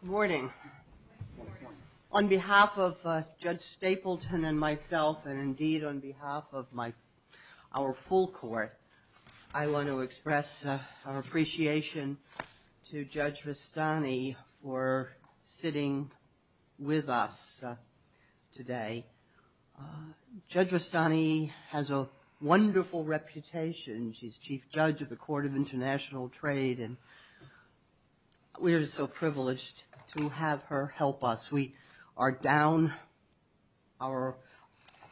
Good morning. On behalf of Judge Stapleton and myself, and indeed on behalf of our full court, I want to express our appreciation to Judge Rustani for sitting with us today. Judge Rustani has a wonderful reputation. She's Chief Judge of the Court of International Trade, and we are so privileged to have her help us. We are down. Our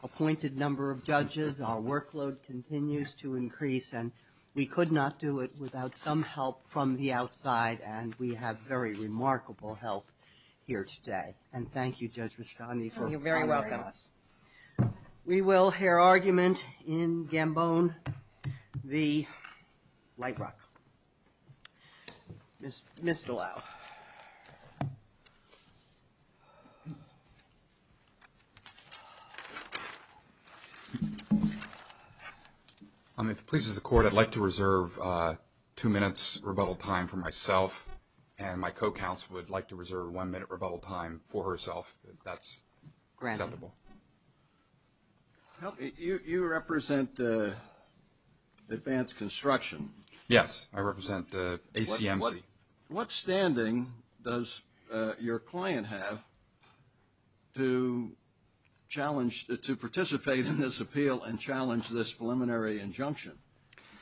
appointed number of judges, our workload continues to increase, and we could not do it without some help from the outside, and we have very remarkable help here today. And thank you, Judge Rustani. Thank you very much. You're very welcome. We will hear argument in Gambone v. Lite Rock. Ms. DeLisle. If it pleases the court, I'd like to reserve two minutes rebuttal time for myself, and my co-counsel would like to reserve one minute rebuttal time for herself, if that's acceptable. You represent Advanced Construction. Yes, I represent ACMC. What standing does your client have to participate in this appeal and challenge this preliminary injunction?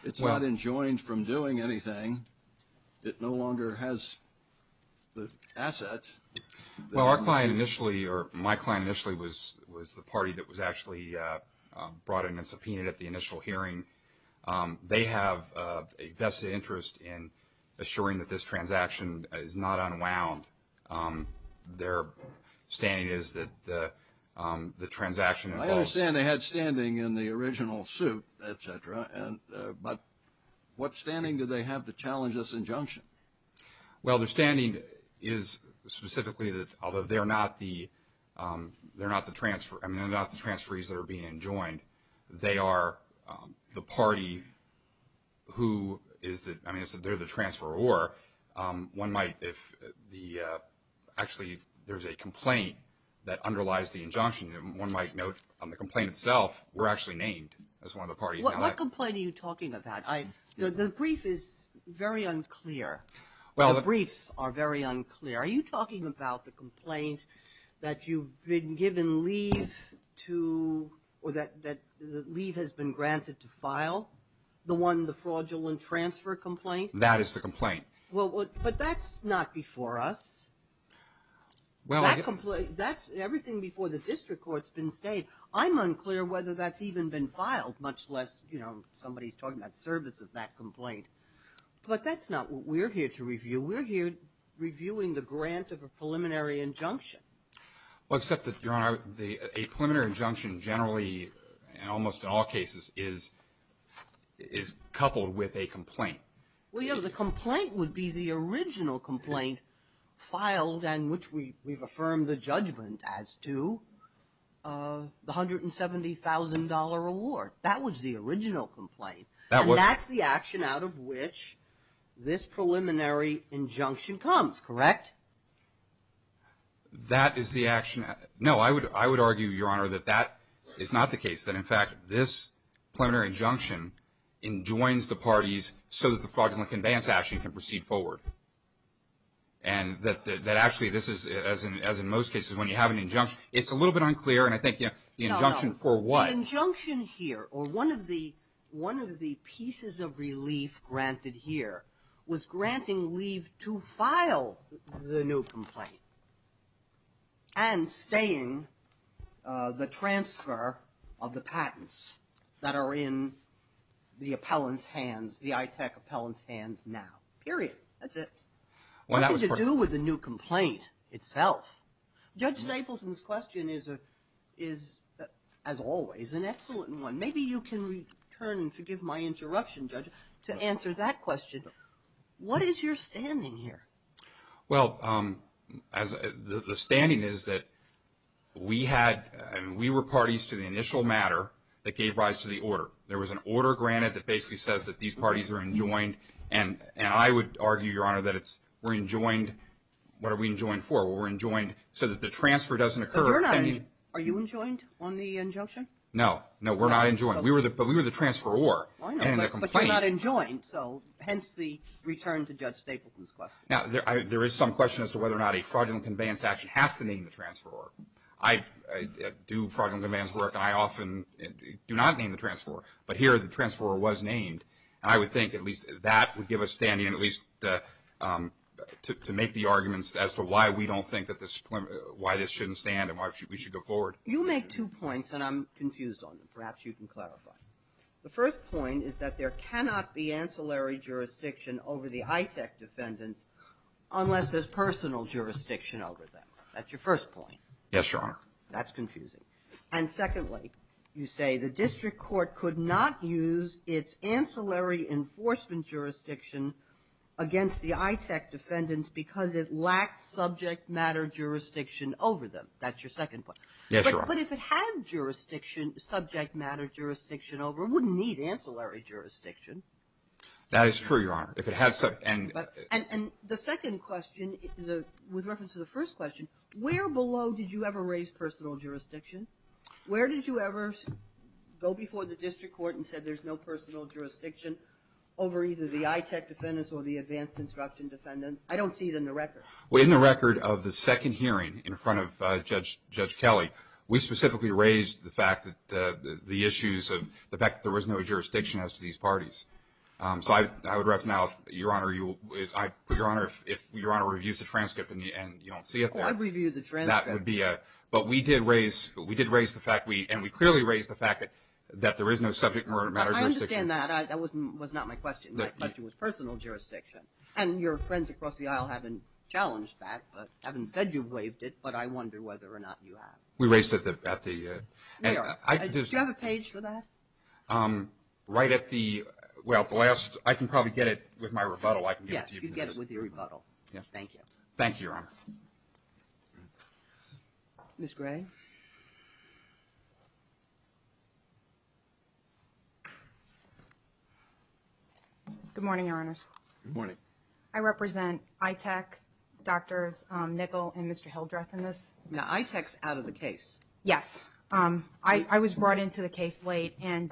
It's not enjoined from doing anything. It no longer has the assets. Well, our client initially, or my client initially, was the party that was actually brought in and subpoenaed at the initial hearing. They have a vested interest in assuring that this transaction is not unwound. Their standing is that the transaction involves... I understand they had standing in the original suit, et cetera, but what standing do they have to challenge this injunction? Well, their standing is specifically that, although they're not the transferees that are being enjoined, they are the party who is the... I mean, they're the transferor. One might, if the... Actually, there's a complaint that underlies the injunction. One might note on the complaint itself, we're actually named as one of the parties. What complaint are you talking about? The brief is very unclear. The briefs are very unclear. Are you talking about the complaint that you've been given leave to, or that leave has been granted to file? The one, the fraudulent transfer complaint? That is the complaint. But that's not before us. Everything before the district court's been stated. I'm unclear whether that's even been filed, much less, you know, somebody's talking about service of that complaint. But that's not what we're here to review. We're here reviewing the grant of a preliminary injunction. Well, except that, Your Honor, a preliminary injunction generally, and almost in all cases, is coupled with a complaint. Well, you know, the complaint would be the original complaint filed and which we've affirmed the judgment as to the $170,000 award. That was the original complaint. And that's the action out of which this preliminary injunction comes, correct? That is the action. No, I would argue, Your Honor, that that is not the case. That, in fact, this preliminary injunction enjoins the parties so that the fraudulent conveyance action can proceed forward. And that actually this is, as in most cases, when you have an injunction, it's a little bit unclear, and I think, you know, the injunction for what? The injunction here, or one of the pieces of relief granted here, was granting leave to file the new complaint and staying the transfer of the patents that are in the appellant's hands, the ITEC appellant's hands now. Period. That's it. What did you do with the new complaint itself? Judge Stapleton's question is, as always, an excellent one. Maybe you can return, and forgive my interruption, Judge, to answer that question. What is your standing here? Well, the standing is that we were parties to the initial matter that gave rise to the order. There was an order granted that basically says that these parties are enjoined, and I would argue, Your Honor, that we're enjoined. What are we enjoined for? We're enjoined so that the transfer doesn't occur. Are you enjoined on the injunction? No. No, we're not enjoined. But we were the transferor. I know, but you're not enjoined, so hence the return to Judge Stapleton's question. Now, there is some question as to whether or not a fraudulent conveyance action has to name the transferor. I do fraudulent conveyance work, and I often do not name the transferor. But here the transferor was named, and I would think at least that would give us standing at least to make the arguments as to why we don't think that this, why this shouldn't stand and why we should go forward. You make two points, and I'm confused on them. Perhaps you can clarify. The first point is that there cannot be ancillary jurisdiction over the ITEC defendants unless there's personal jurisdiction over them. That's your first point. Yes, Your Honor. That's confusing. And secondly, you say the district court could not use its ancillary enforcement jurisdiction against the ITEC defendants because it lacked subject matter jurisdiction over them. That's your second point. Yes, Your Honor. But if it had jurisdiction, subject matter jurisdiction over it, it wouldn't need ancillary jurisdiction. That is true, Your Honor. If it had some – And the second question, with reference to the first question, where below did you ever raise personal jurisdiction? Where did you ever go before the district court and said there's no personal jurisdiction over either the ITEC defendants or the advanced construction defendants? I don't see it in the record. Well, in the record of the second hearing in front of Judge Kelly, we specifically raised the fact that the issues of – the fact that there was no jurisdiction as to these parties. So I would ref now, Your Honor, if Your Honor reviews the transcript and you don't see it there. Oh, I'd review the transcript. That would be a – but we did raise – we did raise the fact we – and we clearly raised the fact that there is no subject matter jurisdiction. I understand that. That was not my question. My question was personal jurisdiction. And your friends across the aisle haven't challenged that, but haven't said you've waived it, but I wonder whether or not you have. We raised it at the – Do you have a page for that? Right at the – well, at the last – I can probably get it with my rebuttal. Yes, you can get it with your rebuttal. Yes. Thank you. Thank you, Your Honor. Ms. Gray. Good morning, Your Honors. Good morning. I represent ITAC, Drs. Nickel and Mr. Hildreth in this. Now, ITAC's out of the case. Yes. I was brought into the case late, and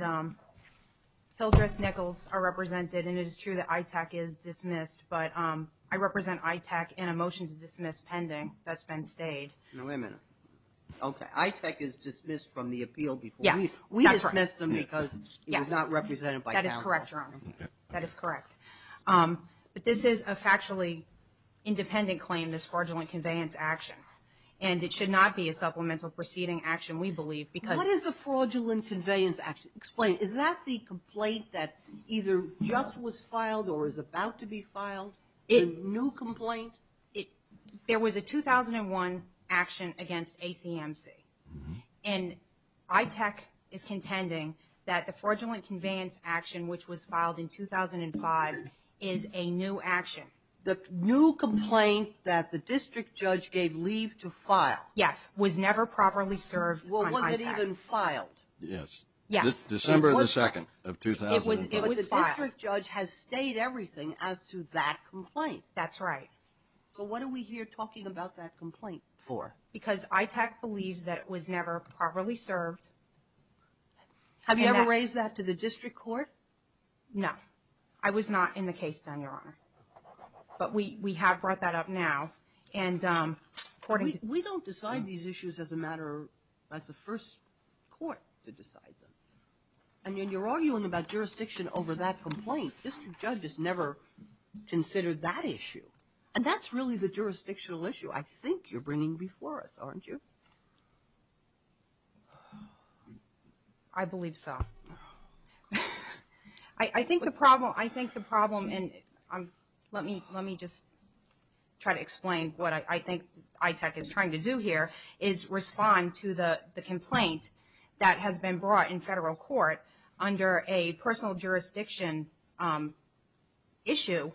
Hildreth, Nickels are represented, and it is true that ITAC is dismissed, but I represent ITAC in a motion to dismiss pending that's been stayed. Now, wait a minute. Okay. ITAC is dismissed from the appeal before we – Yes. That's right. We dismissed them because it was not represented by counsel. That is correct, Your Honor. That is correct. But this is a factually independent claim, this fraudulent conveyance action. And it should not be a supplemental proceeding action, we believe, because – What is a fraudulent conveyance action? Explain. Is that the complaint that either just was filed or is about to be filed? A new complaint? There was a 2001 action against ACMC, and ITAC is contending that the fraudulent conveyance action, which was filed in 2005, is a new action. The new complaint that the district judge gave leave to file – Yes, was never properly served on ITAC. Well, was it even filed? Yes. Yes. December the 2nd of 2005. It was filed. But the district judge has stayed everything as to that complaint. That's right. So what are we here talking about that complaint for? Because ITAC believes that it was never properly served. Have you ever raised that to the district court? No. I was not in the case then, Your Honor. But we have brought that up now. We don't decide these issues as a matter – as the first court to decide them. And when you're arguing about jurisdiction over that complaint, district judges never consider that issue. And that's really the jurisdictional issue I think you're bringing before us, aren't you? I believe so. I think the problem – let me just try to explain what I think ITAC is trying to do here is respond to the complaint that has been brought in federal court under a personal jurisdiction issue.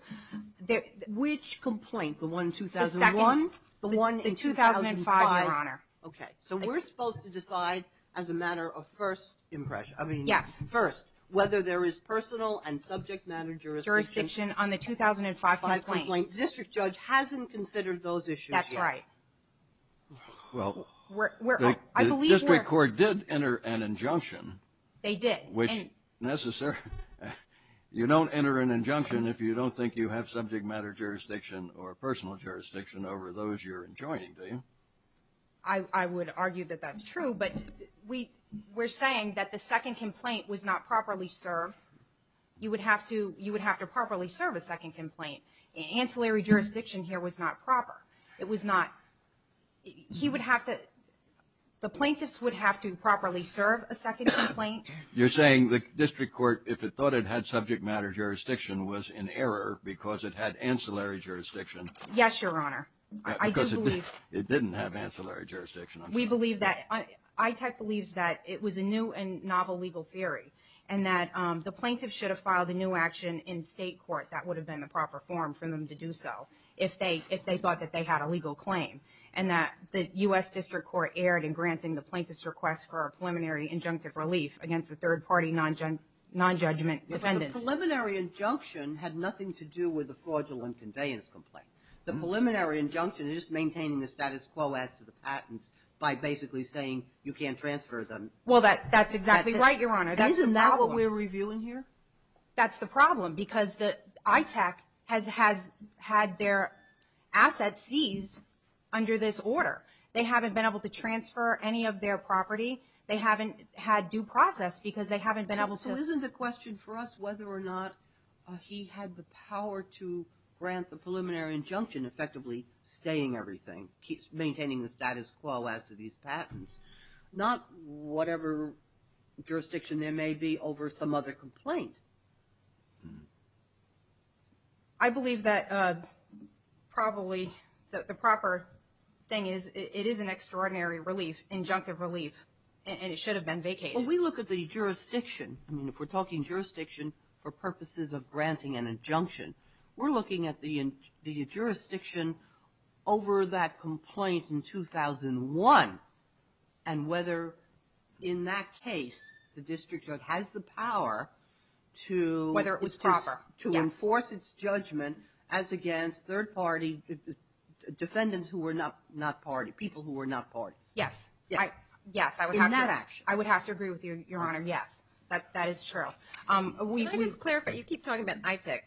Which complaint? The one in 2001? The second. The one in 2005? The 2005, Your Honor. Okay. So we're supposed to decide as a matter of first impression? Yes. I mean, first, whether there is personal and subject matter jurisdiction. Jurisdiction on the 2005 complaint. 2005 complaint. District judge hasn't considered those issues yet. That's right. Well, the district court did enter an injunction. They did. Which necessarily – you don't enter an injunction if you don't think you have subject matter jurisdiction or personal jurisdiction over those you're enjoining, do you? I would argue that that's true. But we're saying that the second complaint was not properly served. You would have to properly serve a second complaint. Ancillary jurisdiction here was not proper. It was not – he would have to – the plaintiffs would have to properly serve a second complaint. You're saying the district court, if it thought it had subject matter jurisdiction, was in error because it had ancillary jurisdiction? Yes, Your Honor. Because it didn't have ancillary jurisdiction. We believe that – ITEC believes that it was a new and novel legal theory and that the plaintiffs should have filed a new action in state court. That would have been the proper form for them to do so if they thought that they had a legal claim and that the U.S. District Court erred in granting the plaintiffs' request for a preliminary injunctive relief against the third-party nonjudgment defendants. But the preliminary injunction had nothing to do with the fraudulent conveyance complaint. The preliminary injunction is just maintaining the status quo as to the patents by basically saying you can't transfer them. Well, that's exactly right, Your Honor. Isn't that what we're reviewing here? That's the problem because ITEC has had their assets seized under this order. They haven't been able to transfer any of their property. They haven't had due process because they haven't been able to – he had the power to grant the preliminary injunction effectively staying everything, maintaining the status quo as to these patents, not whatever jurisdiction there may be over some other complaint. I believe that probably the proper thing is it is an extraordinary relief, injunctive relief, and it should have been vacated. Well, we look at the jurisdiction. I mean, if we're talking jurisdiction for purposes of granting an injunction, we're looking at the jurisdiction over that complaint in 2001 and whether in that case the district judge has the power to – Whether it was proper, yes. To enforce its judgment as against third-party defendants who were not party, people who were not parties. Yes. Yes. In that action. I would have to agree with you, Your Honor. Yes. That is true. Can I just clarify? You keep talking about ITEC.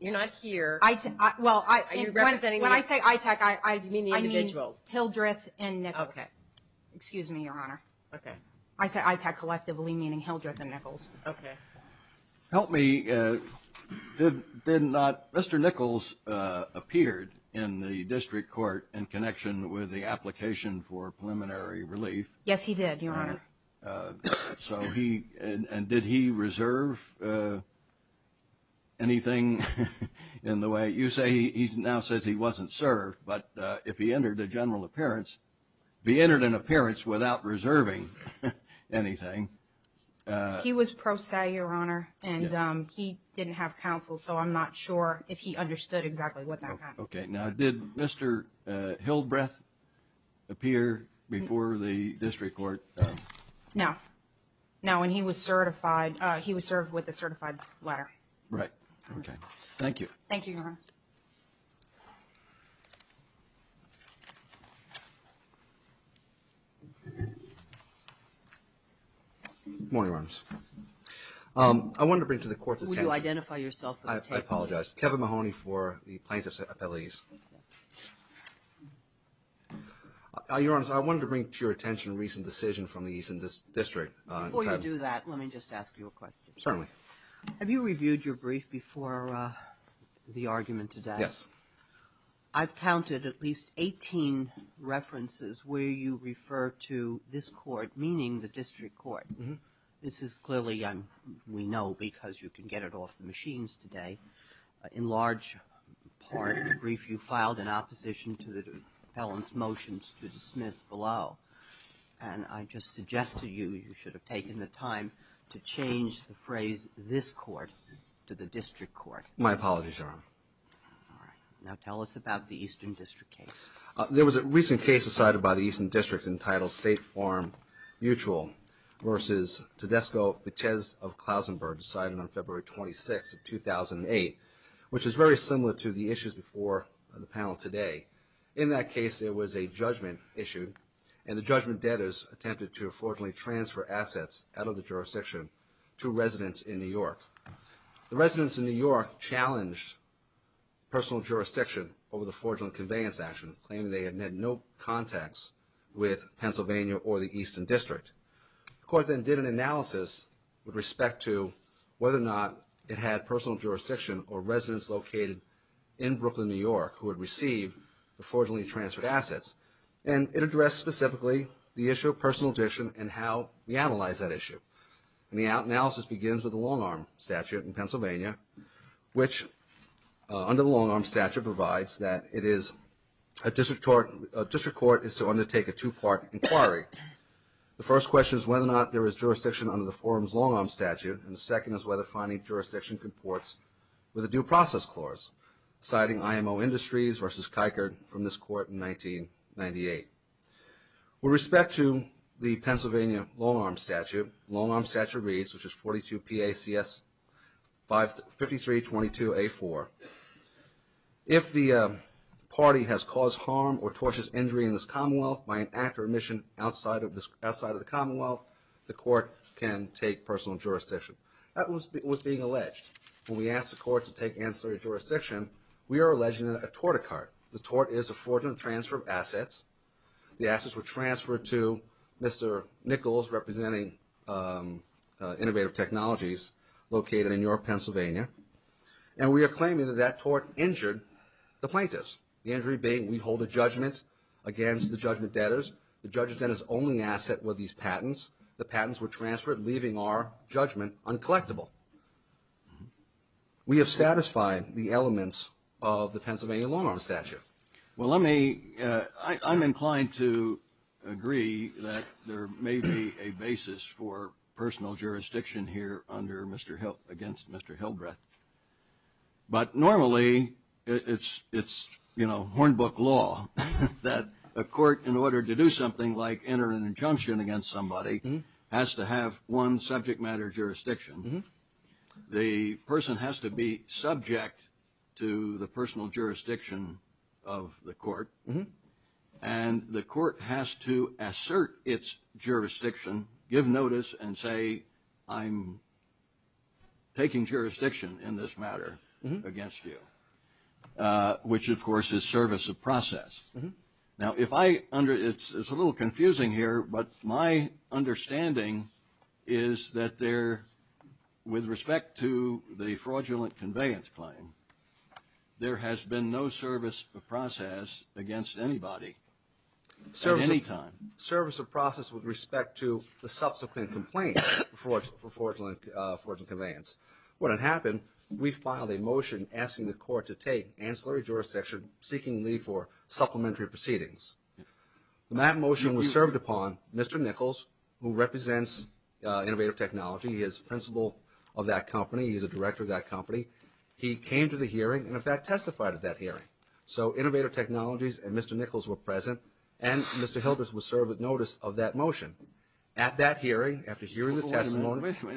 You're not here. Well, when I say ITEC, I mean Hildreth and Nichols. Okay. Excuse me, Your Honor. Okay. I say ITEC collectively, meaning Hildreth and Nichols. Okay. Help me. Yes, he did, Your Honor. So he – and did he reserve anything in the way – you say he now says he wasn't served, but if he entered a general appearance, if he entered an appearance without reserving anything – He was pro se, Your Honor, and he didn't have counsel, so I'm not sure if he understood exactly what that meant. Okay. Now, did Mr. Hildreth appear before the district court? No. No. And he was certified. He was served with a certified letter. Right. Okay. Thank you. Thank you, Your Honor. Good morning, Your Honors. I wanted to bring to the Court's attention – Would you identify yourself for the tape? I apologize. Kevin Mahoney for the plaintiff's appellees. Thank you. Your Honors, I wanted to bring to your attention a recent decision from the Eastern District. Before you do that, let me just ask you a question. Certainly. Have you reviewed your brief before the argument today? Yes. I've counted at least 18 references where you refer to this court, meaning the district court. This is clearly – we know because you can get it off the machines today. In large part of the brief, you filed an opposition to the appellant's motions to dismiss below, and I just suggest to you you should have taken the time to change the phrase, this court, to the district court. My apologies, Your Honor. All right. Now, tell us about the Eastern District case. There was a recent case decided by the Eastern District entitled State Farm Mutual versus Tedesco-Vitez of Clausenburg, decided on February 26th of 2008, which is very similar to the issues before the panel today. In that case, there was a judgment issued, and the judgment debtors attempted to fraudulently transfer assets out of the jurisdiction to residents in New York. The residents in New York challenged personal jurisdiction over the fraudulent conveyance action, claiming they had made no contacts with Pennsylvania or the Eastern District. The court then did an analysis with respect to whether or not it had personal jurisdiction or residents located in Brooklyn, New York, who had received the fraudulently transferred assets, and it addressed specifically the issue of personal addition and how we analyze that issue. And the analysis begins with the long-arm statute in Pennsylvania, which under the long-arm statute provides that a district court is to undertake a two-part inquiry. The first question is whether or not there is jurisdiction under the forum's long-arm statute, and the second is whether finding jurisdiction comports with a due process clause, citing IMO Industries versus Kikert from this court in 1998. With respect to the Pennsylvania long-arm statute, the long-arm statute reads, which is 42 PACS 5322A4, if the party has caused harm or tortious injury in this commonwealth by an act or mission outside of the commonwealth, the court can take personal jurisdiction. That was being alleged. When we asked the court to take ancillary jurisdiction, we are alleging a torticard. The tort is a fraudulent transfer of assets. The assets were transferred to Mr. Nichols, representing Innovative Technologies, located in New York, Pennsylvania, and we are claiming that that tort injured the plaintiffs, the injury being we hold a judgment against the judgment debtors. The judge's debtors' only asset were these patents. The patents were transferred, leaving our judgment uncollectible. We have satisfied the elements of the Pennsylvania long-arm statute. Well, let me – I'm inclined to agree that there may be a basis for personal jurisdiction here under Mr. Hill – against Mr. Hildreth, but normally it's, you know, Hornbook law that a court, in order to do something like enter an injunction against somebody, has to have one subject matter jurisdiction. The person has to be subject to the personal jurisdiction of the court, and the court has to assert its jurisdiction, give notice, and say, I'm taking jurisdiction in this matter against you, which, of course, is service of process. Now, if I – it's a little confusing here, but my understanding is that there – with respect to the fraudulent conveyance claim, there has been no service of process against anybody at any time. Service of process with respect to the subsequent complaint for fraudulent conveyance. When it happened, we filed a motion asking the court to take ancillary jurisdiction, seeking leave for supplementary proceedings. That motion was served upon Mr. Nichols, who represents Innovative Technology. He is principal of that company. He is the director of that company. He came to the hearing and, in fact, testified at that hearing. So Innovative Technologies and Mr. Nichols were present, and Mr. Hildreth was served with notice of that motion. At that hearing, after hearing the testimony – We all know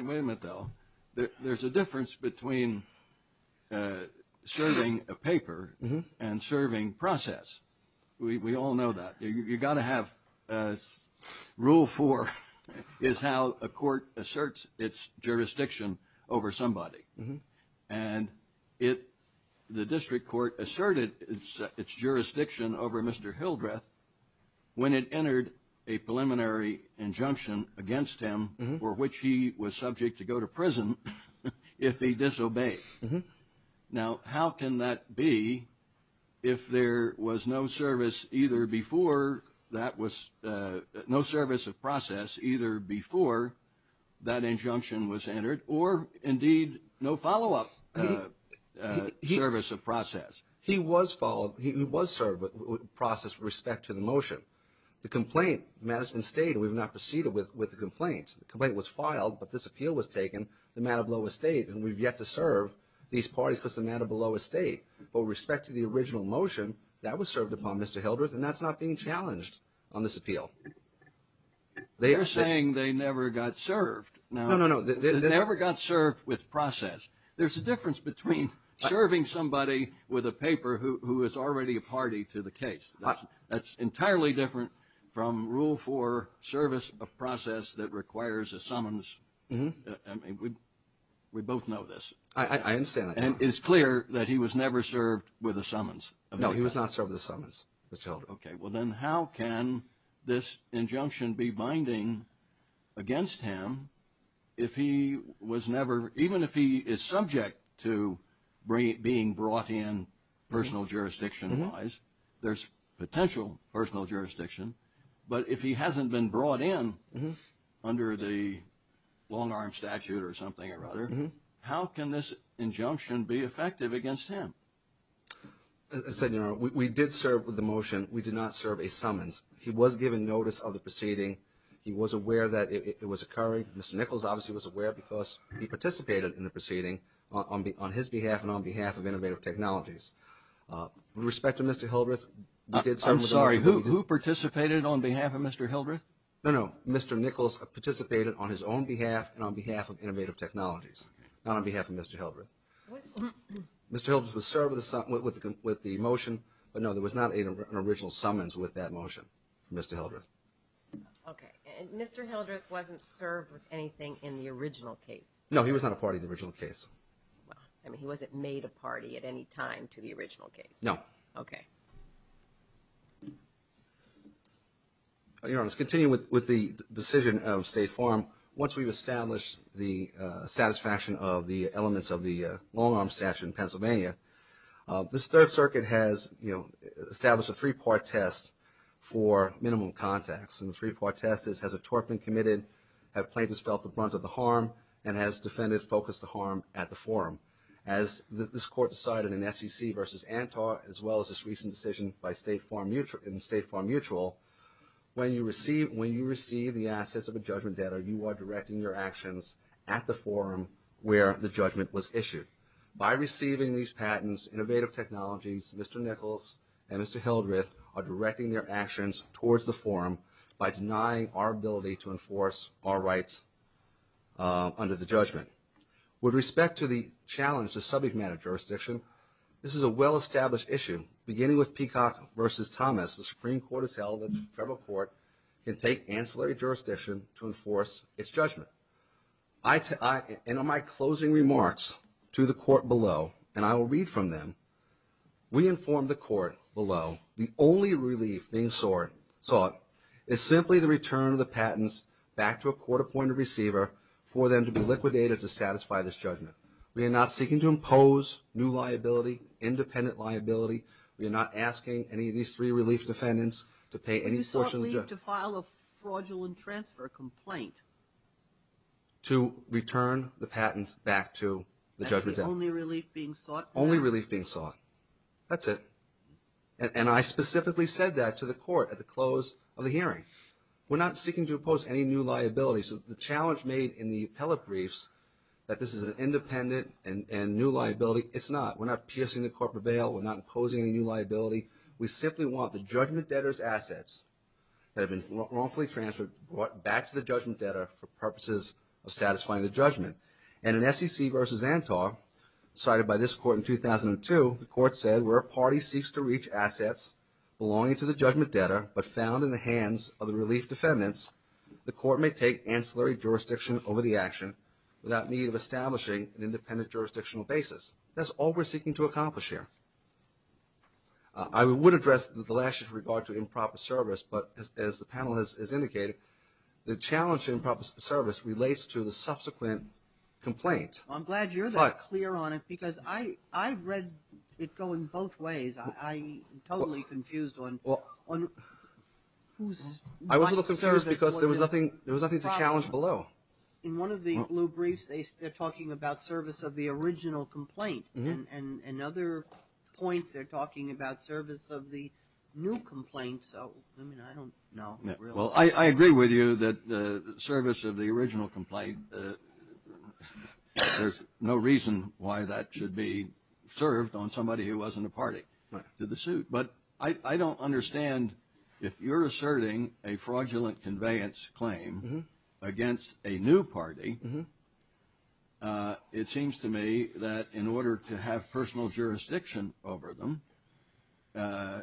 that. You've got to have – rule four is how a court asserts its jurisdiction over somebody. And the district court asserted its jurisdiction over Mr. Hildreth when it entered a preliminary injunction against him for which he was subject to go to prison if he disobeyed. Now, how can that be if there was no service of process either before that injunction was entered or, indeed, no follow-up service of process? He was served with process with respect to the motion. The complaint – the matter has been stated. We have not proceeded with the complaint. The complaint was filed, but this appeal was taken. The matter below a state, and we've yet to serve these parties because the matter below a state. But with respect to the original motion, that was served upon Mr. Hildreth, and that's not being challenged on this appeal. They are saying they never got served. No, no, no. They never got served with process. There's a difference between serving somebody with a paper who is already a party to the case. That's entirely different from Rule 4, service of process that requires a summons. I mean, we both know this. I understand that. And it's clear that he was never served with a summons. No, he was not served with a summons, Mr. Hildreth. Okay. Well, then how can this injunction be binding against him if he was never – even if he is subject to being brought in personal jurisdiction-wise? There's potential personal jurisdiction. But if he hasn't been brought in under the long-arm statute or something or other, how can this injunction be effective against him? Senator, we did serve with the motion. We did not serve a summons. He was given notice of the proceeding. He was aware that it was occurring. Mr. Nichols obviously was aware because he participated in the proceeding on his behalf and on behalf of Innovative Technologies. With respect to Mr. Hildreth, we did serve with the motion. I'm sorry. Who participated on behalf of Mr. Hildreth? No, no. Mr. Nichols participated on his own behalf and on behalf of Innovative Technologies, not on behalf of Mr. Hildreth. Mr. Hildreth was served with the motion. But, no, there was not an original summons with that motion from Mr. Hildreth. Okay. And Mr. Hildreth wasn't served with anything in the original case? No, he was not a part of the original case. Well, I mean, he wasn't made a party at any time to the original case? No. Okay. Your Honor, let's continue with the decision of State Farm. Once we've established the satisfaction of the elements of the long-arm statute in Pennsylvania, this Third Circuit has, you know, established a three-part test for minimum contacts. And the three-part test is has a tort been committed, have plaintiffs felt the brunt of the harm, and has defendants focused the harm at the forum. As this Court decided in SEC v. Antar, as well as this recent decision in State Farm Mutual, when you receive the assets of a judgment debtor, you are directing your actions at the forum where the judgment was issued. By receiving these patents, Innovative Technologies, Mr. Nichols, and Mr. Hildreth, are directing their actions towards the forum by denying our ability to enforce our rights under the judgment. With respect to the challenge to subject matter jurisdiction, this is a well-established issue. Beginning with Peacock v. Thomas, the Supreme Court has held that the federal court can take ancillary jurisdiction to enforce its judgment. And in my closing remarks to the court below, and I will read from them, we informed the court below the only relief being sought is simply the return of the patents back to a court-appointed receiver for them to be liquidated to satisfy this judgment. We are not seeking to impose new liability, independent liability. We are not asking any of these three relief defendants to pay any portion of the judgment. You sought relief to file a fraudulent transfer complaint. To return the patent back to the judgment debtor. That's the only relief being sought? That's it. And I specifically said that to the court at the close of the hearing. We're not seeking to impose any new liability. So the challenge made in the appellate briefs that this is an independent and new liability, it's not. We're not piercing the corporate bail. We're not imposing any new liability. We simply want the judgment debtor's assets that have been wrongfully transferred brought back to the judgment debtor for purposes of satisfying the judgment. And in SEC v. Antar, cited by this court in 2002, the court said where a party seeks to reach assets belonging to the judgment debtor but found in the hands of the relief defendants, the court may take ancillary jurisdiction over the action without need of establishing an independent jurisdictional basis. That's all we're seeking to accomplish here. I would address the last issue with regard to improper service, but as the panel has indicated, the challenge in improper service relates to the subsequent complaint. Well, I'm glad you're that clear on it because I read it going both ways. I'm totally confused on whose right to service was the problem. I was a little confused because there was nothing to challenge below. In one of the blue briefs, they're talking about service of the original complaint. And in other points, they're talking about service of the new complaint. So, I mean, I don't know. Well, I agree with you that the service of the original complaint, there's no reason why that should be served on somebody who wasn't a party to the suit. But I don't understand if you're asserting a fraudulent conveyance claim against a new party, it seems to me that in order to have personal jurisdiction over them,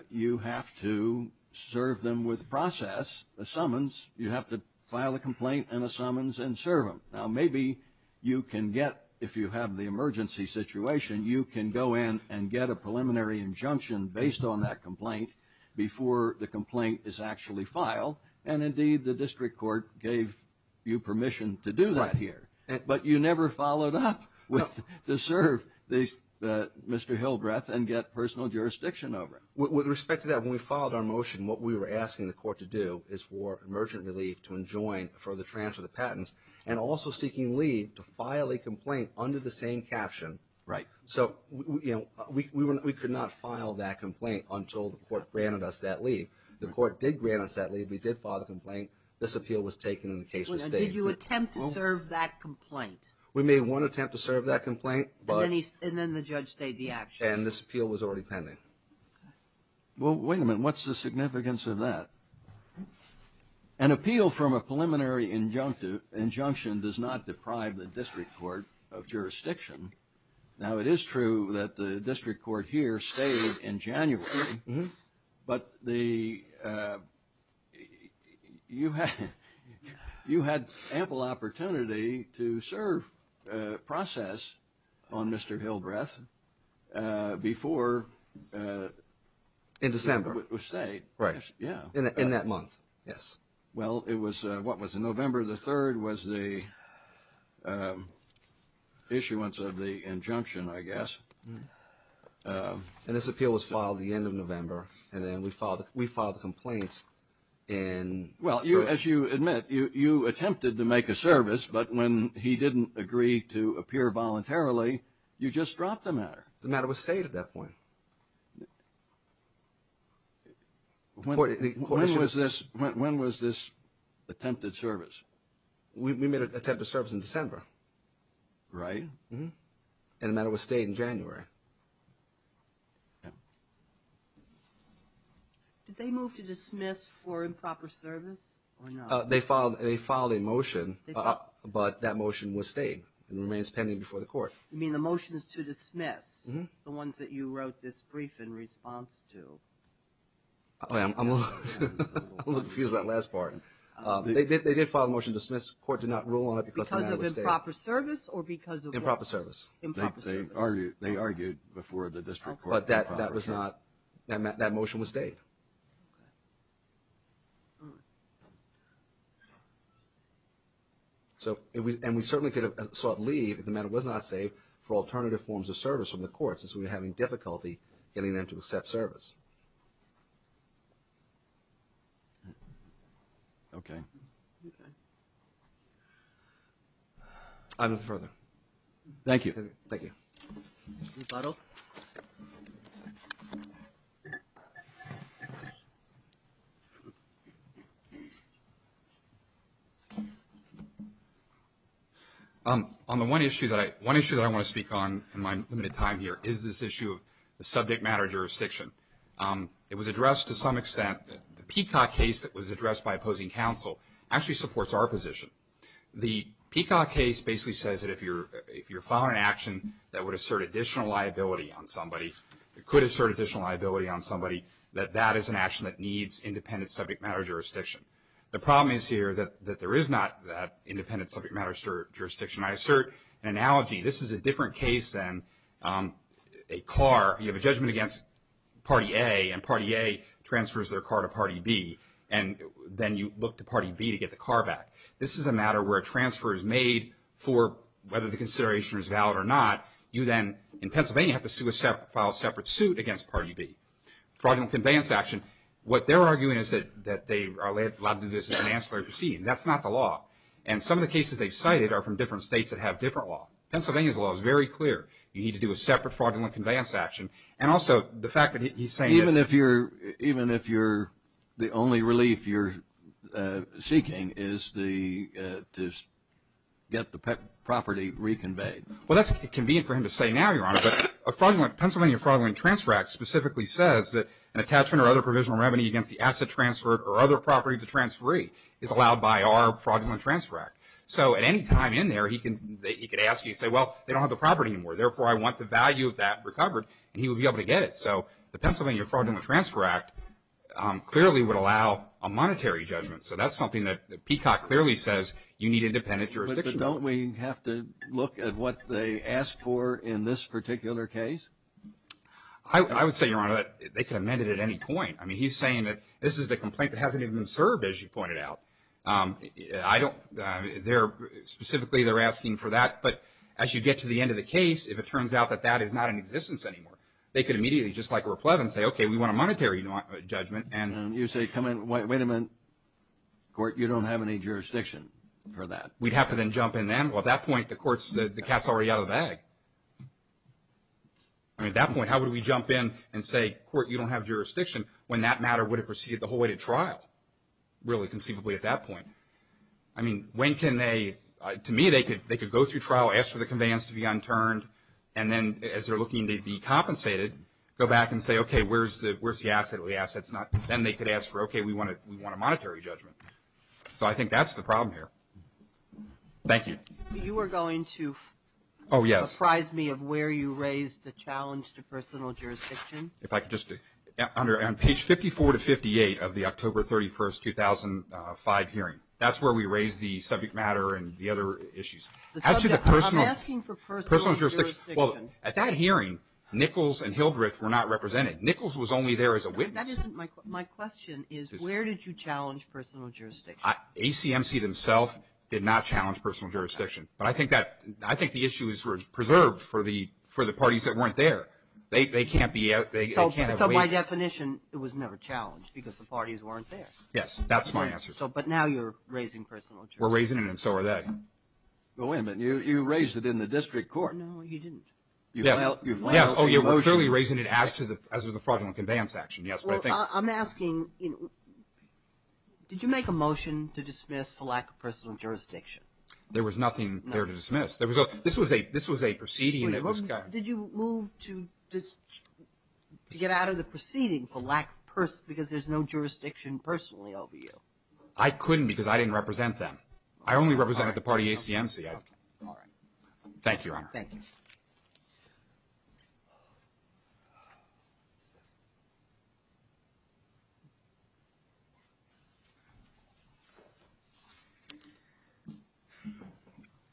you have to serve them with process, a summons. You have to file a complaint and a summons and serve them. Now, maybe you can get, if you have the emergency situation, you can go in and get a preliminary injunction based on that complaint before the complaint is actually filed. And, indeed, the district court gave you permission to do that here. But you never followed up to serve Mr. Hillbreath and get personal jurisdiction over him. With respect to that, when we filed our motion, what we were asking the court to do is for emergent relief to enjoin for the transfer of patents and also seeking leave to file a complaint under the same caption. Right. So, you know, we could not file that complaint until the court granted us that leave. The court did grant us that leave. This appeal was taken and the case was staged. Now, did you attempt to serve that complaint? We made one attempt to serve that complaint. And then the judge stayed the action. And this appeal was already pending. Well, wait a minute. What's the significance of that? An appeal from a preliminary injunction does not deprive the district court of jurisdiction. Now, it is true that the district court here stayed in January. But you had ample opportunity to serve process on Mr. Hillbreath before... In December. Right. In that month. Yes. Well, it was, what was it, November the 3rd was the issuance of the injunction, I guess. And this appeal was filed the end of November. And then we filed the complaints in... Well, as you admit, you attempted to make a service. But when he didn't agree to appear voluntarily, you just dropped the matter. The matter was stayed at that point. When was this attempted service? We made an attempted service in December. Right. And the matter was stayed in January. Did they move to dismiss for improper service or not? They filed a motion, but that motion was stayed and remains pending before the court. You mean the motions to dismiss, the ones that you wrote this brief in response to? I'm a little confused about that last part. They did file a motion to dismiss. The court did not rule on it because the matter was stayed. Improper service or because of what? Improper service. Improper service. They argued before the district court. But that was not, that motion was stayed. So, and we certainly could have sought leave if the matter was not saved for alternative forms of service from the courts as we were having difficulty getting them to accept service. Okay. I move further. Thank you. Thank you. On the one issue that I want to speak on in my limited time here is this issue of the subject matter jurisdiction. It was addressed to some extent. The Peacock case that was addressed by opposing counsel actually supports our position. The Peacock case basically says that if you're filing an action that would assert additional liability on somebody, could assert additional liability on somebody, that that is an action that needs independent subject matter jurisdiction. The problem is here that there is not that independent subject matter jurisdiction. I assert an analogy. This is a different case than a car. You have a judgment against party A and party A transfers their car to party B and then you look to party B to get the car back. This is a matter where a transfer is made for whether the consideration is valid or not. You then, in Pennsylvania, have to file a separate suit against party B. Fraudulent conveyance action. What they're arguing is that they are allowed to do this in an ancillary proceeding. That's not the law. And some of the cases they've cited are from different states that have different law. Pennsylvania's law is very clear. You need to do a separate fraudulent conveyance action. And also the fact that he's saying that... ...to get the property reconveyed. Well, that's convenient for him to say now, Your Honor. But Pennsylvania Fraudulent Transfer Act specifically says that an attachment or other provisional revenue against the asset transferred or other property to transferee is allowed by our Fraudulent Transfer Act. So at any time in there, he could ask you and say, well, they don't have the property anymore. Therefore, I want the value of that recovered, and he would be able to get it. So the Pennsylvania Fraudulent Transfer Act clearly would allow a monetary judgment. So that's something that Peacock clearly says you need independent jurisdiction. But don't we have to look at what they ask for in this particular case? I would say, Your Honor, that they could amend it at any point. I mean, he's saying that this is a complaint that hasn't even been served, as you pointed out. I don't...they're...specifically they're asking for that. But as you get to the end of the case, if it turns out that that is not in existence anymore, they could immediately, just like a replevin, say, okay, we want a monetary judgment. And you say, come in...wait a minute. Court, you don't have any jurisdiction for that. We'd have to then jump in then. Well, at that point, the court's...the cat's already out of the bag. I mean, at that point, how would we jump in and say, Court, you don't have jurisdiction when that matter would have proceeded the whole way to trial, really conceivably at that point? I mean, when can they...to me, they could go through trial, ask for the conveyance to be unturned, and then as they're looking to be compensated, go back and say, okay, where's the asset? Then they could ask for, okay, we want a monetary judgment. So I think that's the problem here. Thank you. You were going to... Oh, yes. ...surprise me of where you raised the challenge to personal jurisdiction. If I could just...on page 54 to 58 of the October 31, 2005 hearing, that's where we raised the subject matter and the other issues. As to the personal... I'm asking for personal jurisdiction. Well, at that hearing, Nichols and Hildreth were not represented. Nichols was only there as a witness. That isn't my question. My question is, where did you challenge personal jurisdiction? ACMC themselves did not challenge personal jurisdiction. But I think that...I think the issue is preserved for the parties that weren't there. They can't be...they can't have... So by definition, it was never challenged because the parties weren't there. Yes. That's my answer. But now you're raising personal jurisdiction. We're raising it, and so are they. Well, wait a minute. You raised it in the district court. No, you didn't. Yes. Oh, you're clearly raising it as to the fraudulent conveyance action. Yes, but I think... Well, I'm asking, did you make a motion to dismiss for lack of personal jurisdiction? There was nothing there to dismiss. This was a proceeding that was... Did you move to get out of the proceeding for lack of... because there's no jurisdiction personally over you? I couldn't because I didn't represent them. I only represented the party ACMC. All right. Thank you, Your Honor. Thank you.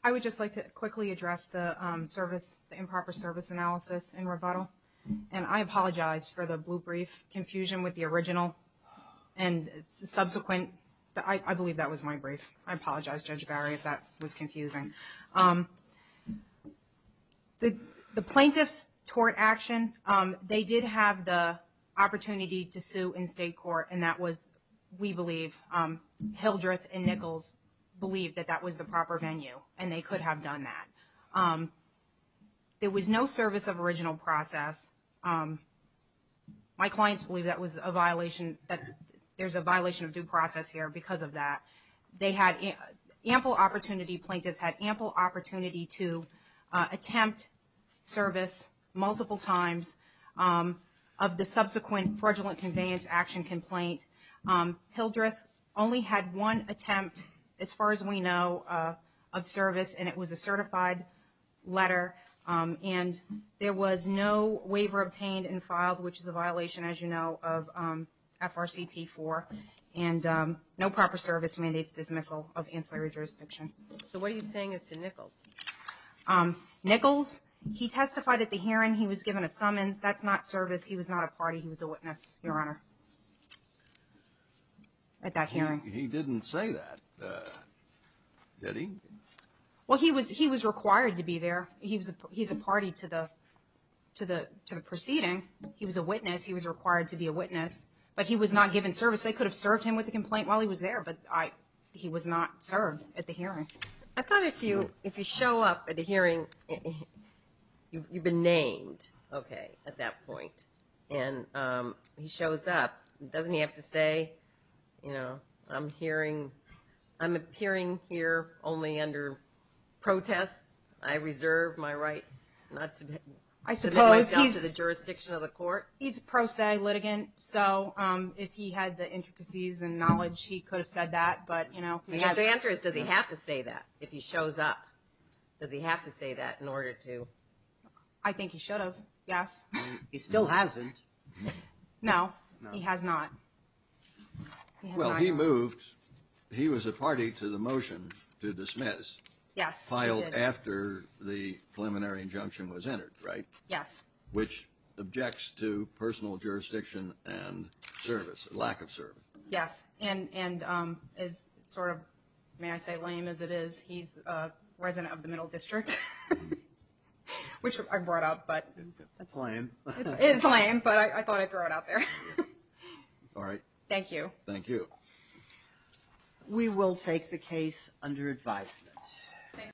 I would just like to quickly address the improper service analysis and rebuttal, and I apologize for the blue brief confusion with the original and subsequent. I believe that was my brief. I apologize, Judge Barry, if that was confusing. The plaintiff's tort action, they did have the opportunity to sue in state court, and that was, we believe, Hildreth and Nichols believed that that was the proper venue, and they could have done that. There was no service of original process. My clients believe that there's a violation of due process here because of that. They had ample opportunity, plaintiffs had ample opportunity to attempt service multiple times of the subsequent fraudulent conveyance action complaint. Hildreth only had one attempt, as far as we know, of service, and it was a certified letter, and there was no waiver obtained and filed, which is a violation, as you know, of FRCP4, and no proper service mandates dismissal of ancillary jurisdiction. So what he's saying is to Nichols. Nichols, he testified at the hearing. He was given a summons. That's not service. He was not a party. He was a witness, Your Honor, at that hearing. He didn't say that, did he? Well, he was required to be there. He's a party to the proceeding. He was a witness. He was required to be a witness, but he was not given service. They could have served him with a complaint while he was there, but he was not served at the hearing. I thought if you show up at a hearing, you've been named, okay, at that point, and he shows up, doesn't he have to say, you know, I'm appearing here only under protest. I reserve my right to the jurisdiction of the court. He's a pro se litigant, so if he had the intricacies and knowledge, he could have said that, but, you know. The answer is, does he have to say that if he shows up? Does he have to say that in order to? I think he should have, yes. He still hasn't. No, he has not. Well, he moved. He was a party to the motion to dismiss. Yes, he did. After the preliminary injunction was entered, right? Yes. Which objects to personal jurisdiction and service, lack of service. Yes, and as sort of, may I say, lame as it is, he's a resident of the Middle District, which I brought up, but. That's lame. It is lame, but I thought I'd throw it out there. All right. Thank you. Thank you. We will take the case under advisement.